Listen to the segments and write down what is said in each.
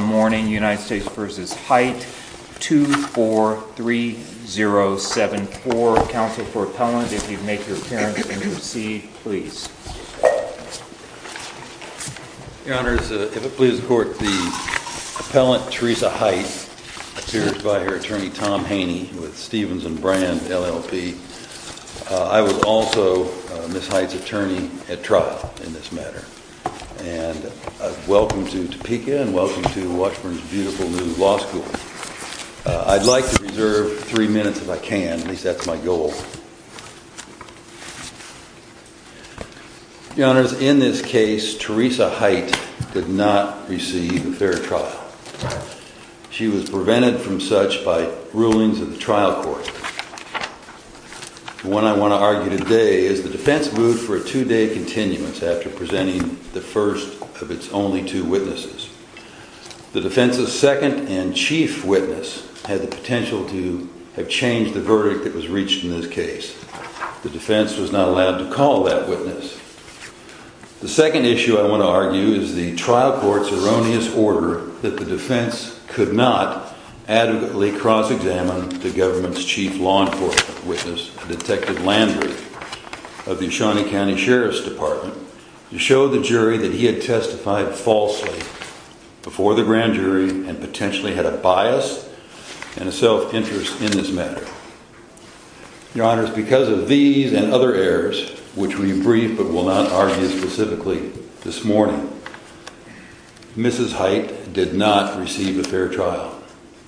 243074. Counsel for appellant, if you would make your appearance and proceed, please. Your Honors, if it pleases the Court, the appellant, Teresa Hight, appears by her attorney Tom Haney with Stephenson Brand, LLP. I was also Ms. Hight's attorney at trial in this matter. And welcome to Topeka and welcome to Washburn's beautiful new law school. I'd like to reserve three minutes if I can, at least that's my goal. Your Honors, in this case, Teresa Hight did not receive a fair trial. She was prevented from such by rulings of the trial court. What I want to argue today is the defense moved for a two-day continuance after presenting the first of its only two witnesses. The defense's second and chief witness had the potential to have changed the verdict that was reached in this case. The defense was not allowed to call that witness. The second issue I want to argue is the trial court's erroneous order that the defense could not adequately cross-examine the government's chief law enforcement witness, Detective Landry of the Shawnee County Sheriff's Department, to show the jury that he had testified falsely before the grand jury and potentially had a bias and a self-interest in this matter. Your Honors, because of these and other errors, which we briefed but will not argue specifically this morning, Mrs. Hight did not receive a fair trial.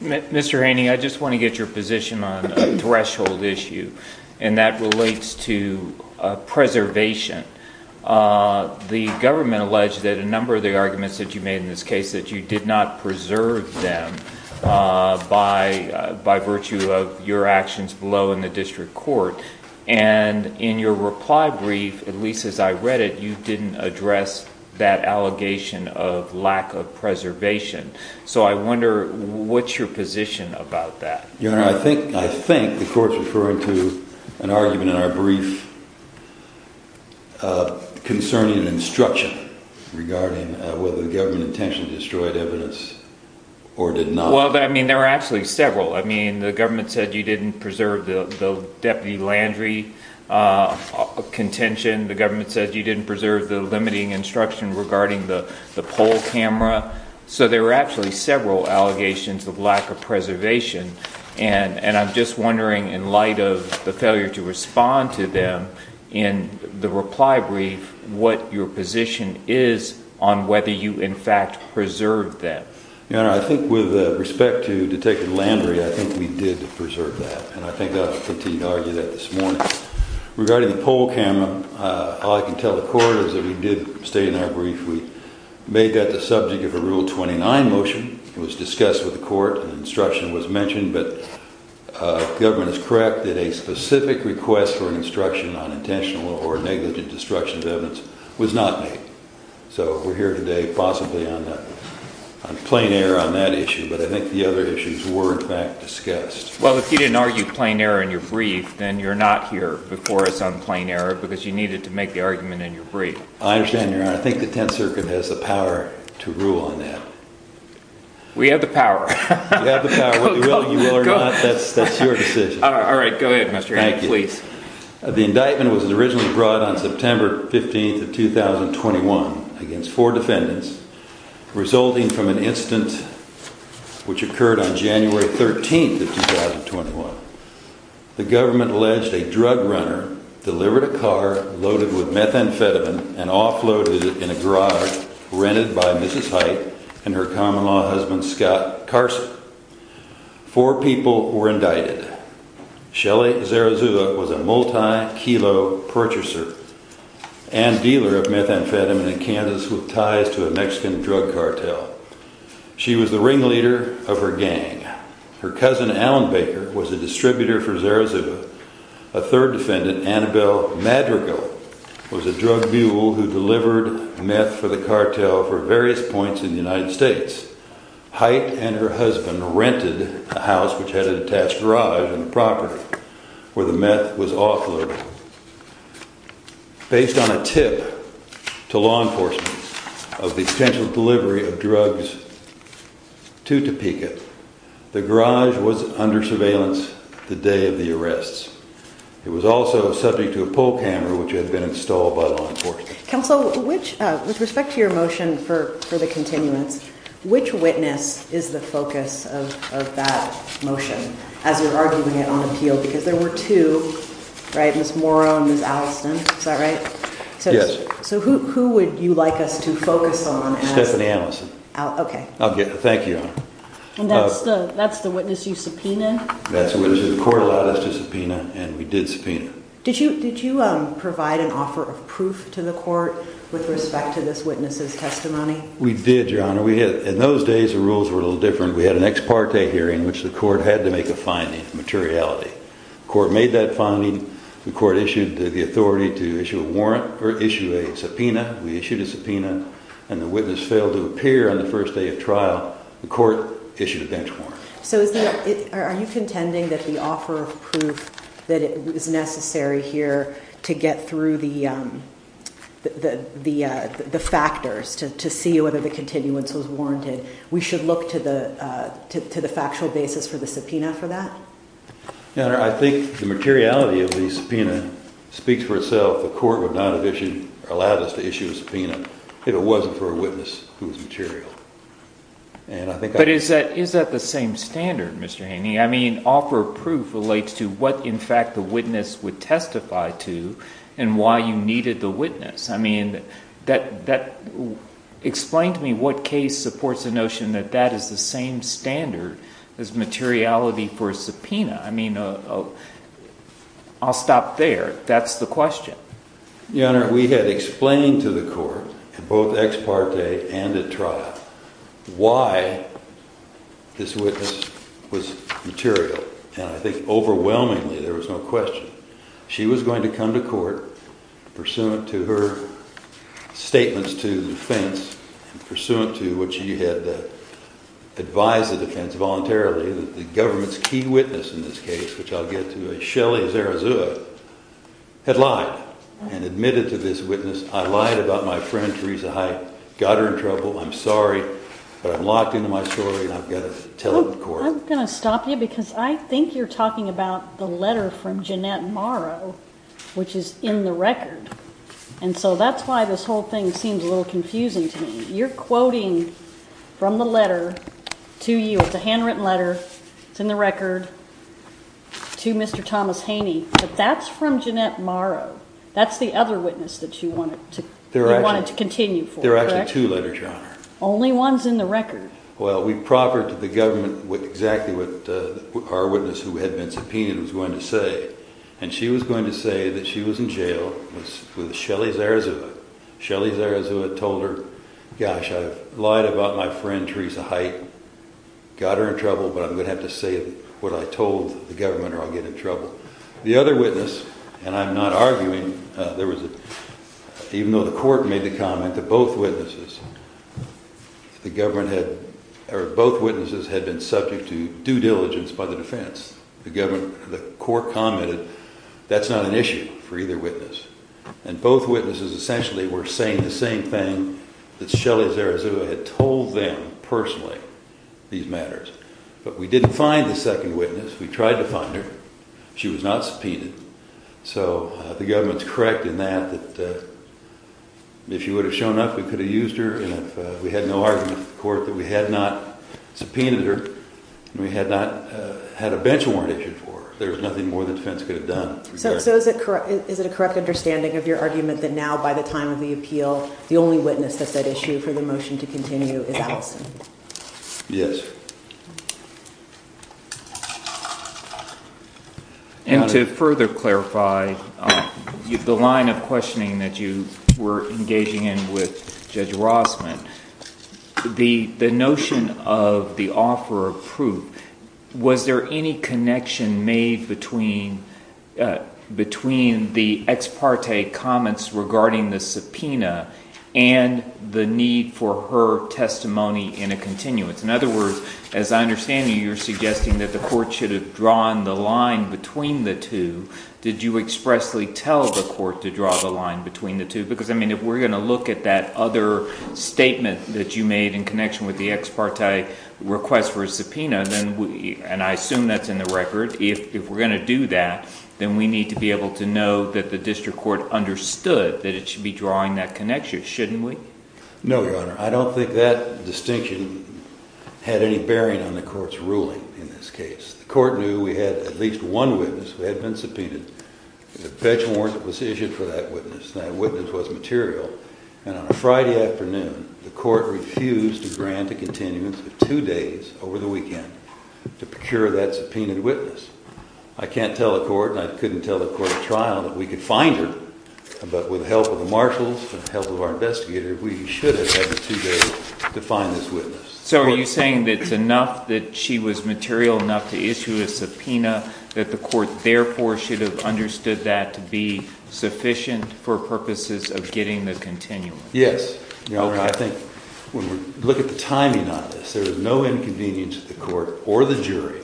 Mr. Haney, I just want to get your position on a threshold issue, and that relates to preservation. The government alleged that a number of the arguments that you made in this case that you did not preserve them by virtue of your actions below in the district court, and in your reply brief, at least as I read it, you didn't address that allegation of lack of preservation. So I wonder what's your position about that? Your Honor, I think the court's referring to an argument in our brief concerning an instruction regarding whether the government intentionally destroyed evidence or did not. Well, I mean, there were actually several. I mean, the government said you didn't preserve the Deputy Landry contention. The government said you didn't preserve the limiting instruction regarding the poll camera. So there were actually several allegations of lack of preservation, and I'm just wondering, in light of the failure to respond to them in the reply brief, what your position is on whether you, in fact, preserved that. Your Honor, I think with respect to Detective Landry, I think we did preserve that, and I think I'll continue to argue that this morning. Regarding the poll camera, all I can tell the court is that we did state in our brief we made that the subject of a Rule 29 motion. It was discussed with the court, and instruction was mentioned, but the government is correct that a specific request for instruction on intentional or negligent destruction of evidence was not made. So we're here today possibly on plain error on that issue, but I think the other issues were, in fact, discussed. Well, if you didn't argue plain error in your brief, then you're not here before us on plain error in the argument in your brief. I understand, Your Honor. I think the Tenth Circuit has the power to rule on that. We have the power. You have the power. Whether you will or not, that's your decision. All right, go ahead, Mr. Haney, please. Thank you. The indictment was originally brought on September 15th of 2021 against four defendants, resulting from an incident which occurred on January 13th of 2021. The government alleged that a drug runner delivered a car loaded with methamphetamine and offloaded it in a garage rented by Mrs. Height and her common-law husband, Scott Carson. Four people were indicted. Shelly Zarazua was a multi-kilo purchaser and dealer of methamphetamine in Kansas with ties to a Mexican drug cartel. She was the ringleader of her gang. Her cousin, Alan Baker, was a distributor for Zarazua. A third defendant, Annabelle Madrigal, was a drug mule who delivered meth for the cartel for various points in the United States. Height and her husband rented a house which had an attached garage on the property where the meth was offloaded. Based on a tip to law enforcement of the potential delivery of drugs to Topeka, the garage was under surveillance the day of the arrests. It was also subject to a poll camera which had been installed by law enforcement. Counsel, with respect to your motion for the continuance, which witness is the focus of that motion as you're arguing it on appeal? Because there were two, right? Ms. Morrow and Ms. Allison. Is that right? Yes. So who would you like us to focus on? Stephanie Allison. Okay. Thank you. And that's the witness you subpoenaed? That's the witness the court allowed us to subpoena and we did subpoena. Did you provide an offer of proof to the court with respect to this witness' testimony? We did, Your Honor. In those days the rules were a little different. We had an ex parte hearing in which the court had to make a finding, a materiality. The court made that finding. The court issued the authority to issue a warrant or issue a subpoena. We issued a subpoena and the witness failed to appear on the first day of trial. The court issued a bench warrant. So are you contending that the offer of proof that is necessary here to get through the factors, to see whether the continuance was warranted, we should look to the factual basis for the subpoena for that? Your Honor, I think the materiality of the subpoena speaks for itself. The court would not have allowed us to issue a subpoena if it wasn't for a witness who was material. But is that the same standard, Mr. Haney? I mean, offer of proof relates to what, in fact, the witness would testify to and why you needed the witness. I mean, explain to me what case supports the notion that that is the same standard as materiality for a subpoena. I mean, I'll stop there. That's the question. Your Honor, we had explained to the court, both ex parte and at trial, why this witness was material. And I think overwhelmingly there was no question. She was going to come to court, pursuant to her statements to the defense and pursuant to what she had advised the defense voluntarily, that the government's key witness in this case, which I'll get to, Shelly Zarazua, had lied and admitted to this witness. I lied about my friend Teresa Height, got her in trouble. I'm sorry, but I'm locked into my story and I've got to tell it in court. I'm going to stop you because I think you're talking about the letter from Jeanette Morrow, which is in the record. And so that's why this whole thing seems a little confusing to me. You're quoting from the letter to you. It's a handwritten letter. It's in the record to Mr. Thomas Haney. But that's from Jeanette Morrow. That's the other witness that you wanted to continue for, correct? There are actually two letters, Your Honor. Only one's in the record. Well, we proffered to the government exactly what our witness, who had been subpoenaed, was going to say. And she was going to say that she was in jail with Shelly Zarazua. Shelly Zarazua told her, gosh, I've lied about my friend Teresa Height, got her in trouble, but I'm going to have to say what I told the government or I'll get in trouble. The other witness, and I'm not arguing, even though the court made the comment, that both witnesses had been subject to due diligence by the defense. The court commented that's not an issue for either witness. And both witnesses essentially were saying the same thing that Shelly Zarazua had told them personally, these matters. But we didn't find the second witness. We tried to find her. She was not subpoenaed. So the government's correct in that that if she would have shown up, we could have used her. And if we had no argument with the court that we had not subpoenaed her and we had not had a bench warrant issued for her, there's nothing more the defense could have done. So is it a correct understanding of your argument that now, by the time of the appeal, the only witness that's at issue for the motion to continue is Allison? Yes. And to further clarify, the line of questioning that you were engaging in with Judge Rossman, the notion of the offer of proof, was there any connection made between the ex parte comments regarding the subpoena and the need for her testimony in a continuance? In other words, as I understand you, you're suggesting that the court should have drawn the line between the two. Did you expressly tell the court to draw the line between the two? Because, I mean, if we're going to look at that other statement that you made in connection with the ex parte request for a subpoena, and I assume that's in the record, if we're going to do that, then we need to be able to know that the district court understood that it should be drawing that connection, shouldn't we? No, Your Honor. I don't think that distinction had any bearing on the court's ruling in this case. The court knew we had at least one witness who had been subpoenaed. The bench warrant was issued for that witness, and that witness was material. And on a Friday afternoon, the court refused to grant a continuance for two days over the weekend to procure that subpoenaed witness. I can't tell the court, and I couldn't tell the court at trial, that we could find her, but with the help of the marshals and the help of our investigator, we should have had the two days to find this witness. So are you saying that it's enough that she was material enough to issue a subpoena, that the court therefore should have understood that to be sufficient for purposes of getting the continuance? Yes. I think when we look at the timing on this, there was no inconvenience to the court or the jury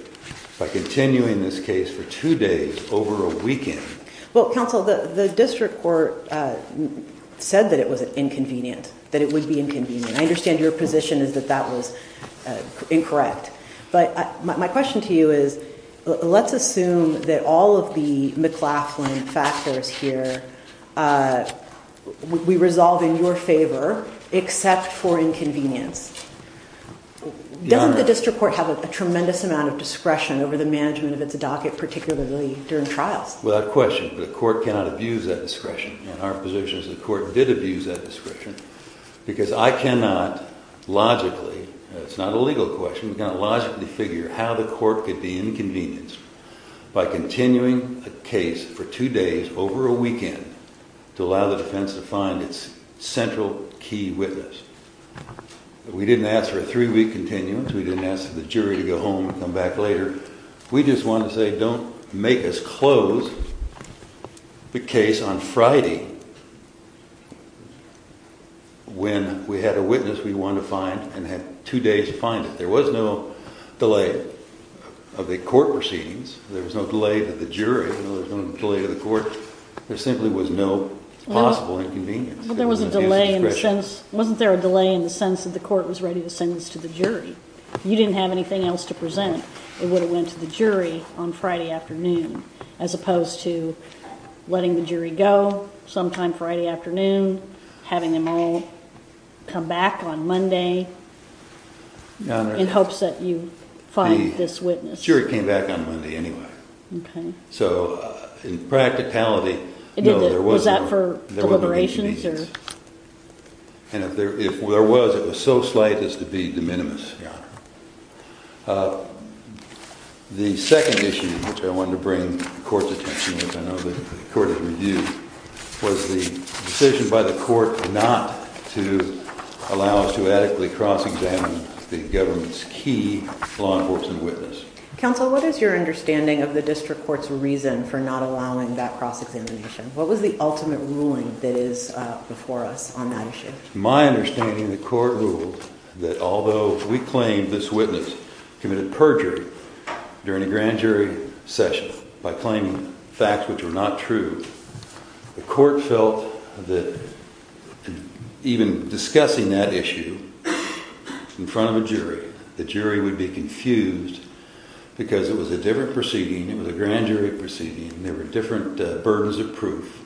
by continuing this case for two days over a weekend. Well, counsel, the district court said that it was inconvenient, that it would be inconvenient. I understand your position is that that was incorrect. But my question to you is, let's assume that all of the McLaughlin factors here we resolve in your favor, except for inconvenience. Doesn't the district court have a tremendous amount of discretion over the management of its docket, particularly during trials? Without question. The court cannot abuse that discretion, and our position is the court did abuse that discretion, because I cannot logically, it's not a legal question, we cannot logically figure how the court could be inconvenienced by continuing a case for two days over a weekend to allow the defense to find its central key witness. We didn't ask for a three-week continuance. We didn't ask the jury to go home and come back later. We just wanted to say don't make us close the case on Friday when we had a witness we wanted to find and had two days to find it. There was no delay of the court proceedings. There was no delay to the jury. There was no delay to the court. There simply was no possible inconvenience. Well, there was a delay in the sense, wasn't there a delay in the sense that the court was ready to send this to the jury? If you didn't have anything else to present, it would have went to the jury on Friday afternoon, as opposed to letting the jury go sometime Friday afternoon, having them all come back on Monday in hopes that you find this witness. The jury came back on Monday anyway. Okay. So in practicality, no, there was no inconvenience. Was that for deliberations? And if there was, it was so slight as to be de minimis, Your Honor. The second issue which I wanted to bring the court's attention to, which I know the court has reviewed, was the decision by the court not to allow us to adequately cross-examine the government's key law enforcement witness. Counsel, what is your understanding of the district court's reason for not allowing that cross-examination? What was the ultimate ruling that is before us on that issue? My understanding, the court ruled that although we claimed this witness committed perjury during a grand jury session by claiming facts which were not true, the court felt that even discussing that issue in front of a jury, the jury would be confused because it was a different proceeding, it was a grand jury proceeding, there were different burdens of proof,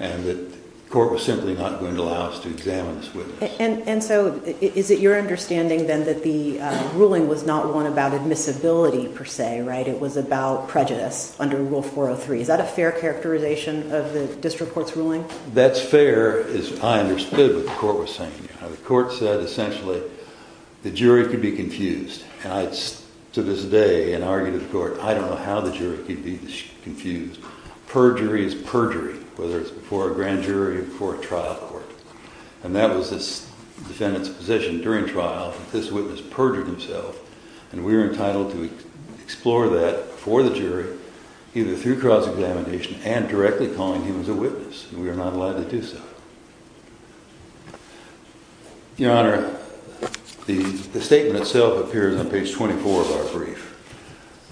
and the court was simply not going to allow us to examine this witness. And so is it your understanding then that the ruling was not one about admissibility per se, right? It was about prejudice under Rule 403. Is that a fair characterization of the district court's ruling? That's fair, as I understood what the court was saying. The court said essentially the jury could be confused. To this day, in argument of the court, I don't know how the jury could be confused. Perjury is perjury, whether it's before a grand jury or before a trial court. And that was this defendant's position during trial, that this witness perjured himself, and we were entitled to explore that before the jury, either through cross-examination and directly calling him as a witness, and we were not allowed to do so. Your Honor, the statement itself appears on page 24 of our brief.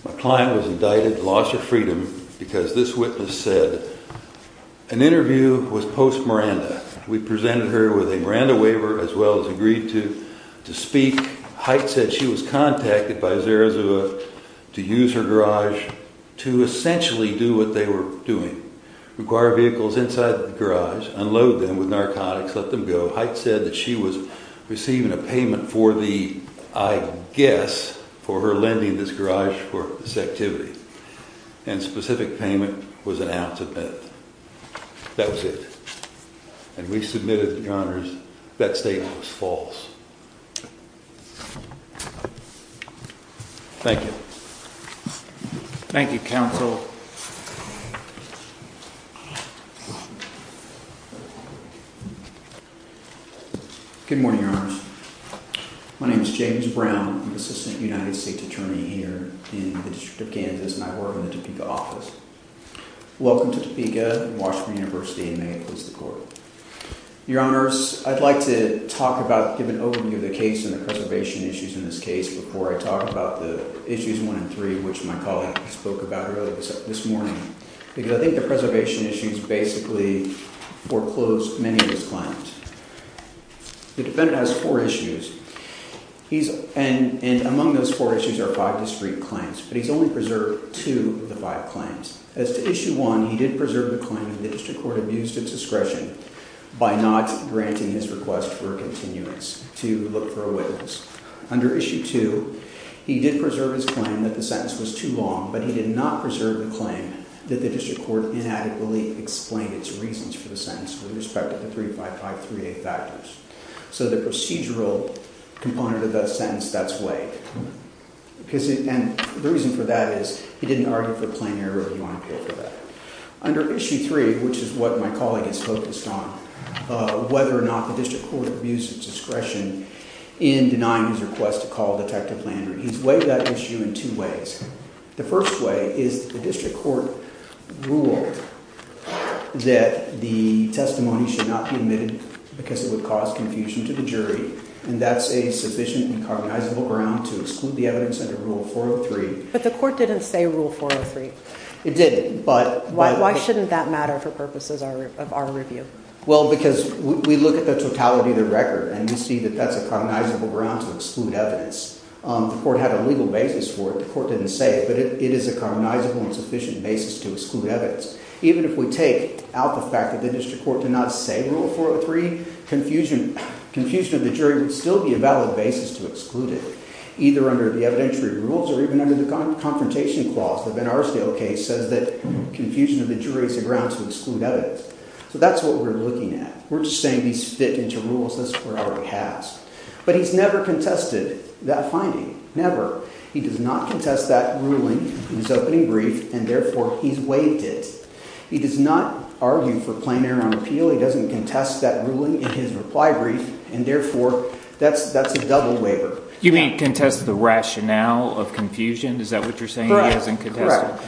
My client was indicted, lost her freedom, because this witness said an interview was post-Miranda. We presented her with a Miranda waiver as well as agreed to speak. Hite said she was contacted by Zarazua to use her garage to essentially do what they were doing, require vehicles inside the garage, unload them with narcotics, let them go. Hite said that she was receiving a payment for the, I guess, for her lending this garage for this activity, and specific payment was an ounce of meth. That was it. And we submitted, Your Honors, that statement was false. Thank you. Thank you, counsel. Good morning, Your Honors. My name is James Brown. I'm the Assistant United States Attorney here in the District of Kansas, and I work in the Topeka office. Welcome to Topeka and Washburn University, and may it please the Court. Your Honors, I'd like to talk about, give an overview of the case and the preservation issues in this case before I talk about the issues one and three, which my colleague spoke about earlier this morning, because I think the preservation issues basically foreclosed many of his claims. The defendant has four issues, and among those four issues are five discreet claims, but he's only preserved two of the five claims. As to issue one, he did preserve the claim that the district court abused its discretion by not granting his request for a continuance to look for a witness. Under issue two, he did preserve his claim that the sentence was too long, but he did not preserve the claim that the district court inadequately explained its reasons for the sentence with respect to the three, five, five, three, eight factors. So the procedural component of that sentence, that's weighed, and the reason for that is he didn't argue for plenary review on appeal for that. Under issue three, which is what my colleague has focused on, whether or not the district court abused its discretion in denying his request to call Detective Landry, he's weighed that issue in two ways. The first way is the district court ruled that the testimony should not be admitted because it would cause confusion to the jury, and that's a sufficient and cognizable ground to exclude the evidence under Rule 403. But the court didn't say Rule 403. It didn't, but by the court. Why shouldn't that matter for purposes of our review? Well, because we look at the totality of the record, and we see that that's a cognizable ground to exclude evidence. The court had a legal basis for it. The court didn't say it, but it is a cognizable and sufficient basis to exclude evidence. Even if we take out the fact that the district court did not say Rule 403, confusion of the jury would still be a valid basis to exclude it, either under the evidentiary rules or even under the confrontation clause. The Ben Arsdale case says that confusion of the jury is a ground to exclude evidence. So that's what we're looking at. We're just saying these fit into rules. This court already has. But he's never contested that finding, never. He does not contest that ruling in his opening brief, and therefore he's waived it. He does not argue for plenary on appeal. He doesn't contest that ruling in his reply brief, and therefore that's a double waiver. You mean contest the rationale of confusion? Is that what you're saying?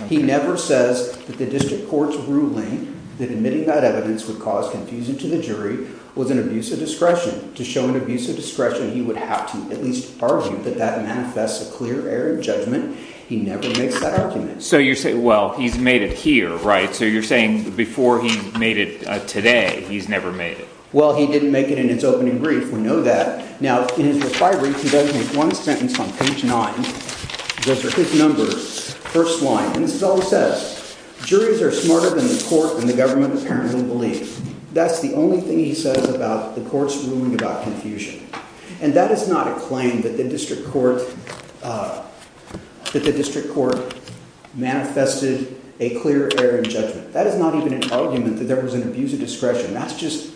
He never says that the district court's ruling that admitting that evidence would cause confusion to the jury was an abuse of discretion. To show an abuse of discretion, he would have to at least argue that that manifests a clear error in judgment. He never makes that argument. So you're saying, well, he's made it here, right? So you're saying before he made it today, he's never made it. Well, he didn't make it in his opening brief. We know that. Now, in his reply brief, he doesn't make one sentence on page 9. Those are his numbers, first line. And this is all he says. Juries are smarter than the court and the government apparently believe. That's the only thing he says about the court's ruling about confusion. And that is not a claim that the district court manifested a clear error in judgment. That is not even an argument that there was an abuse of discretion. That's just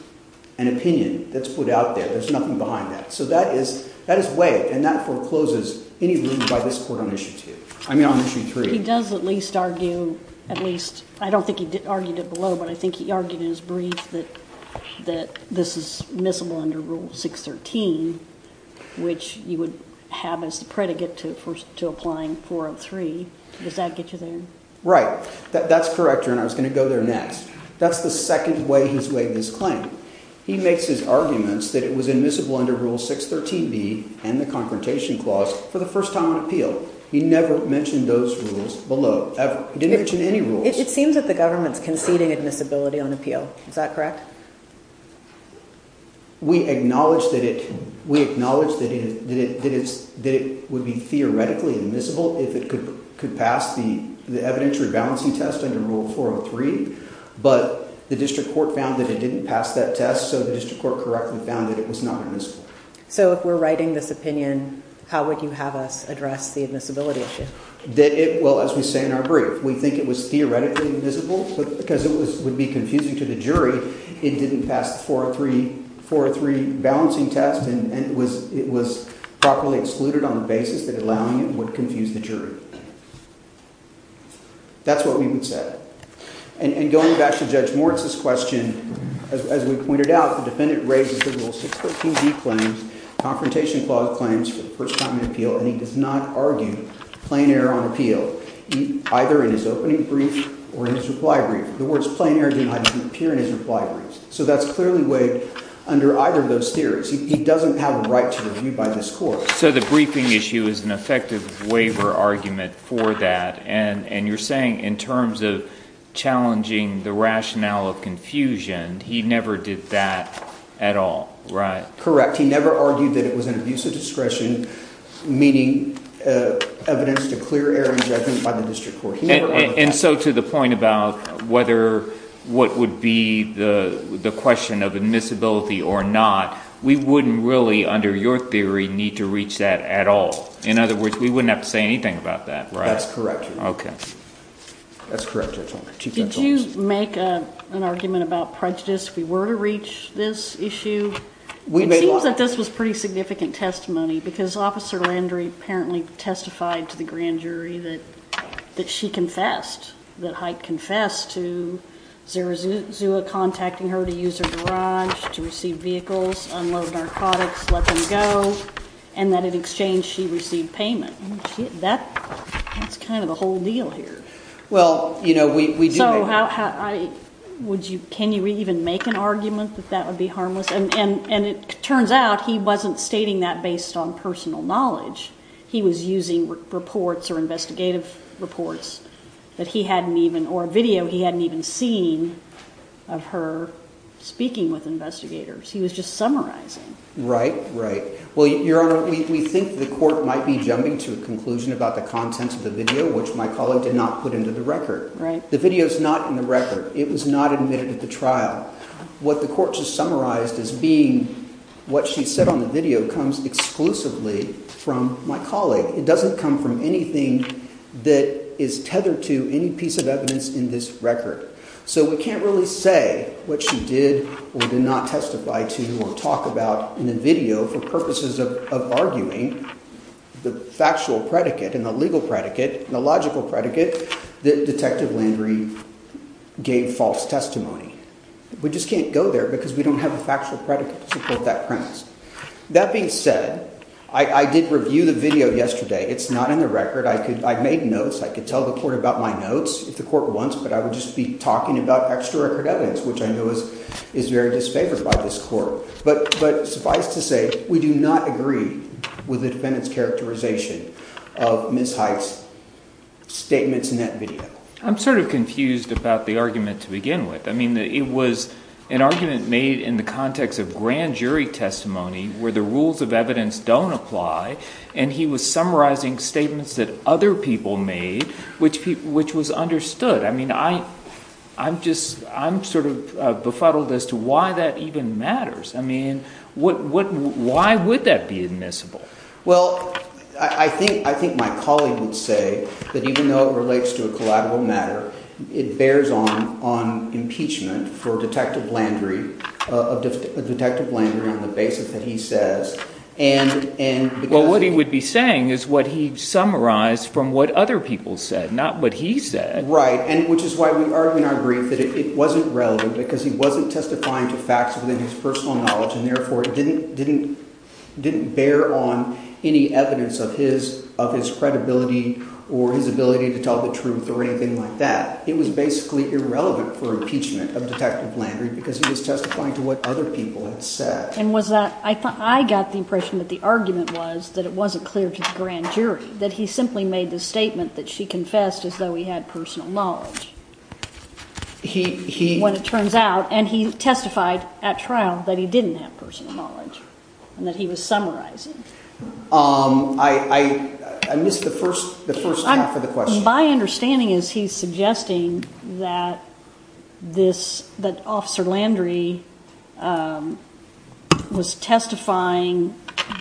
an opinion that's put out there. There's nothing behind that. So that is waived, and that forecloses any ruling by this court on issue 2. I mean on issue 3. He does at least argue, at least, I don't think he argued it below, but I think he argued in his brief that this is admissible under Rule 613, which you would have as the predicate to applying 403. Does that get you there? Right. That's correct, and I was going to go there next. That's the second way he's waived this claim. He makes his arguments that it was admissible under Rule 613B and the Confrontation Clause for the first time on appeal. He never mentioned those rules below, ever. He didn't mention any rules. It seems that the government is conceding admissibility on appeal. Is that correct? We acknowledge that it would be theoretically admissible if it could pass the evidentiary balancing test under Rule 403, but the district court found that it didn't pass that test, so the district court correctly found that it was not admissible. So if we're writing this opinion, how would you have us address the admissibility issue? Well, as we say in our brief, we think it was theoretically admissible because it would be confusing to the jury it didn't pass the 403 balancing test and it was properly excluded on the basis that allowing it would confuse the jury. That's what we would say. And going back to Judge Moritz's question, as we pointed out, the defendant raises the Rule 613B claims, Confrontation Clause claims for the first time on appeal, and he does not argue plain error on appeal, either in his opening brief or in his reply brief. The words plain error do not appear in his reply brief, so that's clearly waived under either of those theories. He doesn't have a right to be reviewed by this court. So the briefing issue is an effective waiver argument for that, and you're saying in terms of challenging the rationale of confusion, he never did that at all, right? Correct. He never argued that it was an abuse of discretion, meaning evidence to clear error in judgment by the district court. And so to the point about whether what would be the question of admissibility or not, we wouldn't really, under your theory, need to reach that at all. In other words, we wouldn't have to say anything about that, right? That's correct. Okay. That's correct. Did you make an argument about prejudice if we were to reach this issue? It seems that this was pretty significant testimony because Officer Landry apparently testified to the grand jury that she confessed, that Hite confessed to Zerazua contacting her to use her garage to receive vehicles, unload narcotics, let them go, and that in exchange she received payment. That's kind of the whole deal here. Well, you know, we do make that argument. So can you even make an argument that that would be harmless? And it turns out he wasn't stating that based on personal knowledge. He was using reports or investigative reports that he hadn't even, or a video he hadn't even seen of her speaking with investigators. He was just summarizing. Right, right. Well, Your Honor, we think the court might be jumping to a conclusion about the contents of the video, which my colleague did not put into the record. Right. The video is not in the record. It was not admitted at the trial. What the court just summarized as being what she said on the video comes exclusively from my colleague. It doesn't come from anything that is tethered to any piece of evidence in this record. So we can't really say what she did or did not testify to or talk about in the video for purposes of arguing the factual predicate and the legal predicate and the logical predicate that Detective Landry gave false testimony. We just can't go there because we don't have a factual predicate to support that premise. That being said, I did review the video yesterday. It's not in the record. I made notes. I could tell the court about my notes if the court wants, but I would just be talking about extra-record evidence, which I know is very disfavored by this court. But suffice to say, we do not agree with the defendant's characterization of Ms. Hite's statements in that video. I'm sort of confused about the argument to begin with. I mean it was an argument made in the context of grand jury testimony where the rules of evidence don't apply, and he was summarizing statements that other people made, which was understood. I mean I'm just sort of befuddled as to why that even matters. I mean why would that be admissible? Well, I think my colleague would say that even though it relates to a collateral matter, it bears on impeachment for Detective Landry on the basis that he says. Well, what he would be saying is what he summarized from what other people said, not what he said. Right, which is why we argue in our brief that it wasn't relevant because he wasn't testifying to facts within his personal knowledge and therefore didn't bear on any evidence of his credibility or his ability to tell the truth or anything like that. It was basically irrelevant for impeachment of Detective Landry because he was testifying to what other people had said. And was that – I got the impression that the argument was that it wasn't clear to the grand jury, that he simply made the statement that she confessed as though he had personal knowledge when it turns out, and he testified at trial that he didn't have personal knowledge and that he was summarizing. I missed the first half of the question. My understanding is he's suggesting that this – that Officer Landry was testifying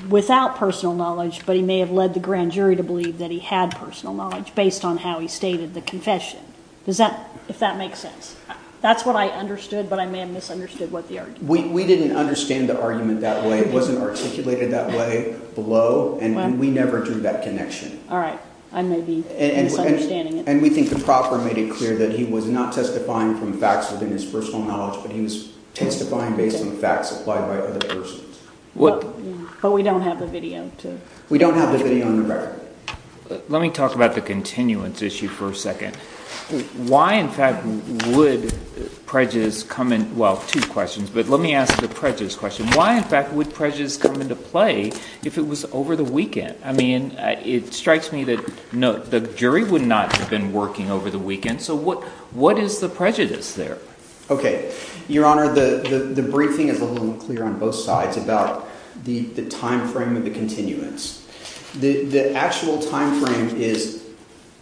without personal knowledge, but he may have led the grand jury to believe that he had personal knowledge based on how he stated the confession. Does that – if that makes sense? That's what I understood, but I may have misunderstood what the argument was. We didn't understand the argument that way. It wasn't articulated that way below, and we never drew that connection. All right. I may be misunderstanding it. And we think the proper made it clear that he was not testifying from facts within his personal knowledge, but he was testifying based on facts applied by other persons. But we don't have the video to – We don't have the video on the record. Let me talk about the continuance issue for a second. Why, in fact, would prejudice come in – well, two questions, but let me ask the prejudice question. Why, in fact, would prejudice come into play if it was over the weekend? I mean it strikes me that the jury would not have been working over the weekend, so what is the prejudice there? Okay. Your Honor, the briefing is a little more clear on both sides about the timeframe of the continuance. The actual timeframe is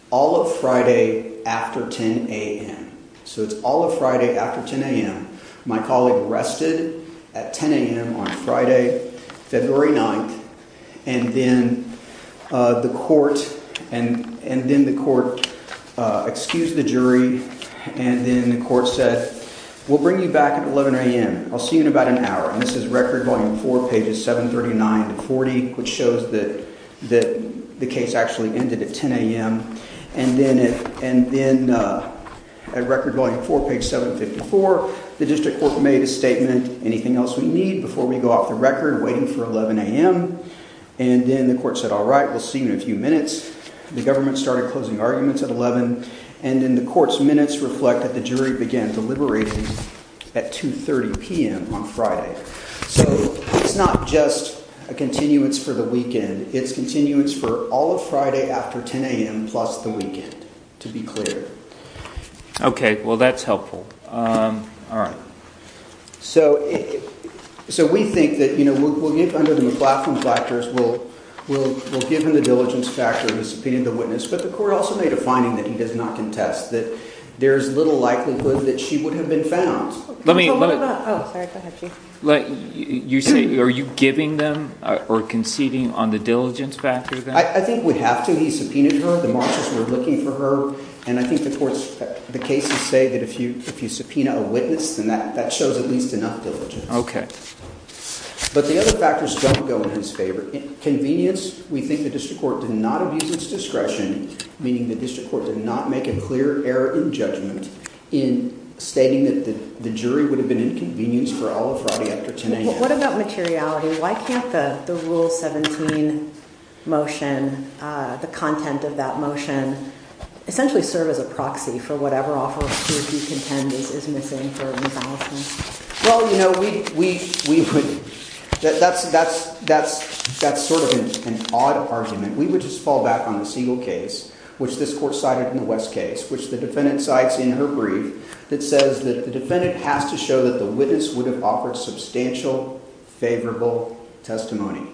all of Friday after 10 a.m. So it's all of Friday after 10 a.m. My colleague rested at 10 a.m. on Friday, February 9th, and then the court – We'll bring you back at 11 a.m. I'll see you in about an hour. And this is Record Volume 4, pages 739 to 740, which shows that the case actually ended at 10 a.m. And then at Record Volume 4, page 754, the district court made a statement, anything else we need before we go off the record, waiting for 11 a.m. And then the court said, all right, we'll see you in a few minutes. The government started closing arguments at 11. And then the court's minutes reflect that the jury began deliberations at 2.30 p.m. on Friday. So it's not just a continuance for the weekend. It's continuance for all of Friday after 10 a.m. plus the weekend, to be clear. Okay. Well, that's helpful. All right. So we think that, you know, we'll get under the McLaughlin factors. We'll give him the diligence factor of disobeying the witness. But the court also made a finding that he does not contest, that there's little likelihood that she would have been found. Let me – Oh, sorry. Go ahead, Chief. You say – are you giving them or conceding on the diligence factor? I think we have to. He subpoenaed her. The marshals were looking for her. And I think the court's – the cases say that if you subpoena a witness, then that shows at least enough diligence. Okay. But the other factors don't go in his favor. Convenience, we think the district court did not abuse its discretion, meaning the district court did not make a clear error in judgment in stating that the jury would have been inconvenienced for all of Friday after 10 a.m. What about materiality? Why can't the Rule 17 motion, the content of that motion, essentially serve as a proxy for whatever offer he would contend is missing for rebalancing? Well, you know, we would – that's sort of an odd argument. We would just fall back on a single case, which this court cited in the West case, which the defendant cites in her brief that says that the defendant has to show that the witness would have offered substantial favorable testimony.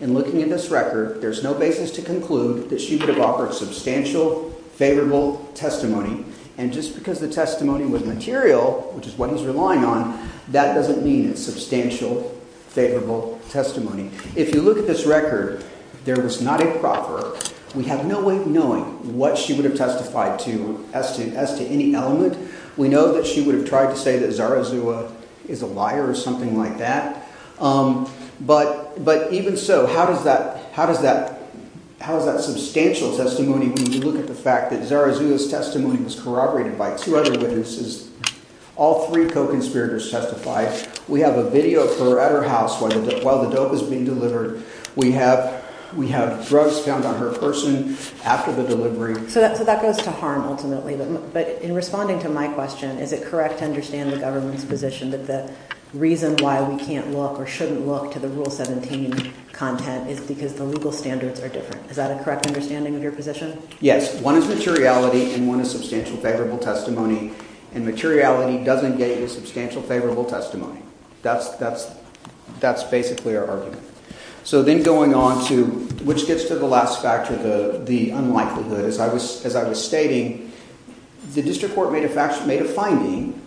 And looking at this record, there's no basis to conclude that she would have offered substantial favorable testimony. And just because the testimony was material, which is what he's relying on, that doesn't mean it's substantial favorable testimony. If you look at this record, there was not a proffer. We have no way of knowing what she would have testified to as to any element. We know that she would have tried to say that Zarazua is a liar or something like that. But even so, how does that – how is that substantial testimony when you look at the fact that Zarazua's testimony was corroborated by two other witnesses? All three co-conspirators testified. We have a video at her house while the dope is being delivered. We have drugs found on her person after the delivery. So that goes to harm ultimately. But in responding to my question, is it correct to understand the government's position that the reason why we can't look or shouldn't look to the Rule 17 content is because the legal standards are different? Is that a correct understanding of your position? Yes. One is materiality and one is substantial favorable testimony. And materiality doesn't get you substantial favorable testimony. That's basically our argument. So then going on to – which gets to the last factor, the unlikelihood. As I was stating, the district court made a finding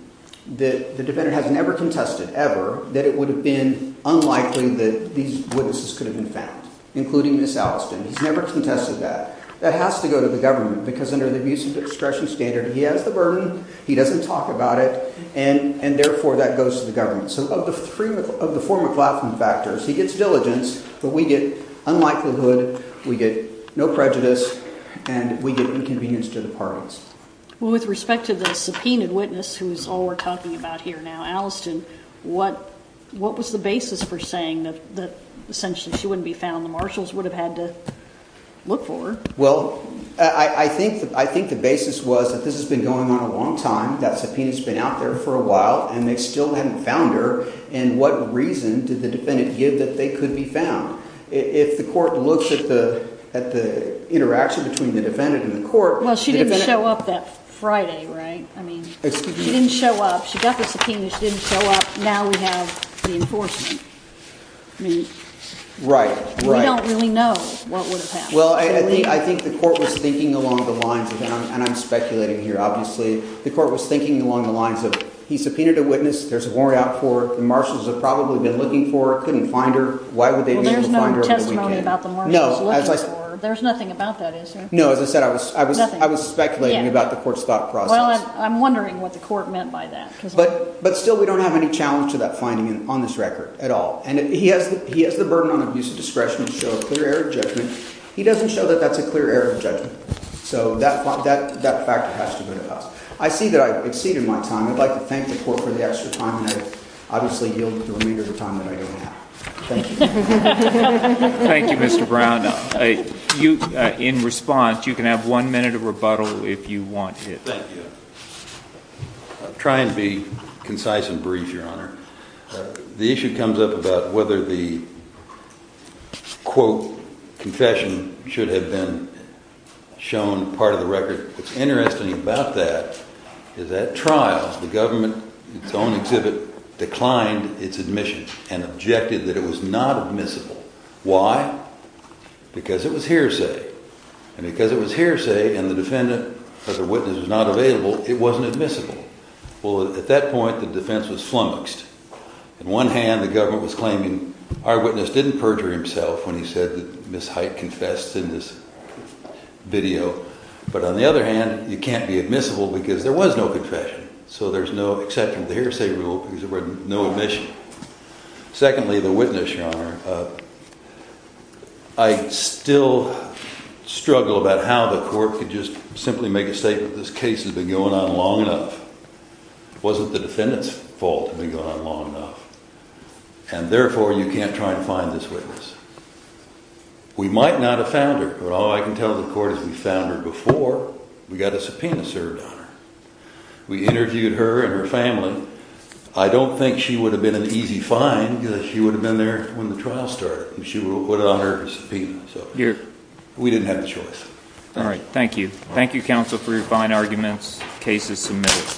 that the defendant has never contested ever that it would have been unlikely that these witnesses could have been found, including Ms. Alliston. He's never contested that. That has to go to the government because under the abusive expression standard, he has the burden, he doesn't talk about it, and therefore that goes to the government. So of the four McLaughlin factors, he gets diligence, but we get unlikelihood, we get no prejudice, and we get inconvenience to the parties. Well, with respect to the subpoenaed witness, who is all we're talking about here now, Alliston, what was the basis for saying that essentially she wouldn't be found? The marshals would have had to look for her. Well, I think the basis was that this has been going on a long time, that subpoena has been out there for a while, and they still haven't found her, and what reason did the defendant give that they could be found? If the court looks at the interaction between the defendant and the court – Well, she didn't show up that Friday, right? She didn't show up. She got the subpoena. She didn't show up. Now we have the enforcement. Right, right. We don't really know what would have happened. Well, I think the court was thinking along the lines of – and I'm speculating here, obviously – the court was thinking along the lines of he subpoenaed a witness, there's a warrant out for her, the marshals have probably been looking for her, couldn't find her, why would they be able to find her? Well, there's no testimony about the marshals looking for her. There's nothing about that, is there? No, as I said, I was speculating about the court's thought process. Well, I'm wondering what the court meant by that. But still, we don't have any challenge to that finding on this record at all. And he has the burden on abuse of discretion to show a clear error of judgment. He doesn't show that that's a clear error of judgment. So that factor has to go to us. I see that I've exceeded my time. I'd like to thank the court for the extra time and I obviously yield the remainder of the time that I don't have. Thank you. Thank you, Mr. Brown. In response, you can have one minute of rebuttal if you want it. Thank you. I'll try and be concise and brief, Your Honor. The issue comes up about whether the, quote, confession should have been shown part of the record. What's interesting about that is that trial, the government, its own exhibit, declined its admission and objected that it was not admissible. Why? Because it was hearsay. And because it was hearsay and the defendant or the witness was not available, it wasn't admissible. Well, at that point, the defense was flummoxed. On one hand, the government was claiming our witness didn't perjure himself when he said that Ms. Hite confessed in this video. But on the other hand, you can't be admissible because there was no confession. So there's no exception to the hearsay rule because there was no admission. Secondly, the witness, Your Honor, I still struggle about how the court could just simply make a statement. This case has been going on long enough. It wasn't the defendant's fault. It had been going on long enough. And therefore, you can't try and find this witness. We might not have found her, but all I can tell the court is we found her before we got a subpoena served on her. We interviewed her and her family. I don't think she would have been an easy find. She would have been there when the trial started. She would have put it on her subpoena. We didn't have a choice. All right. Thank you. Thank you, counsel, for your fine arguments. Case is submitted.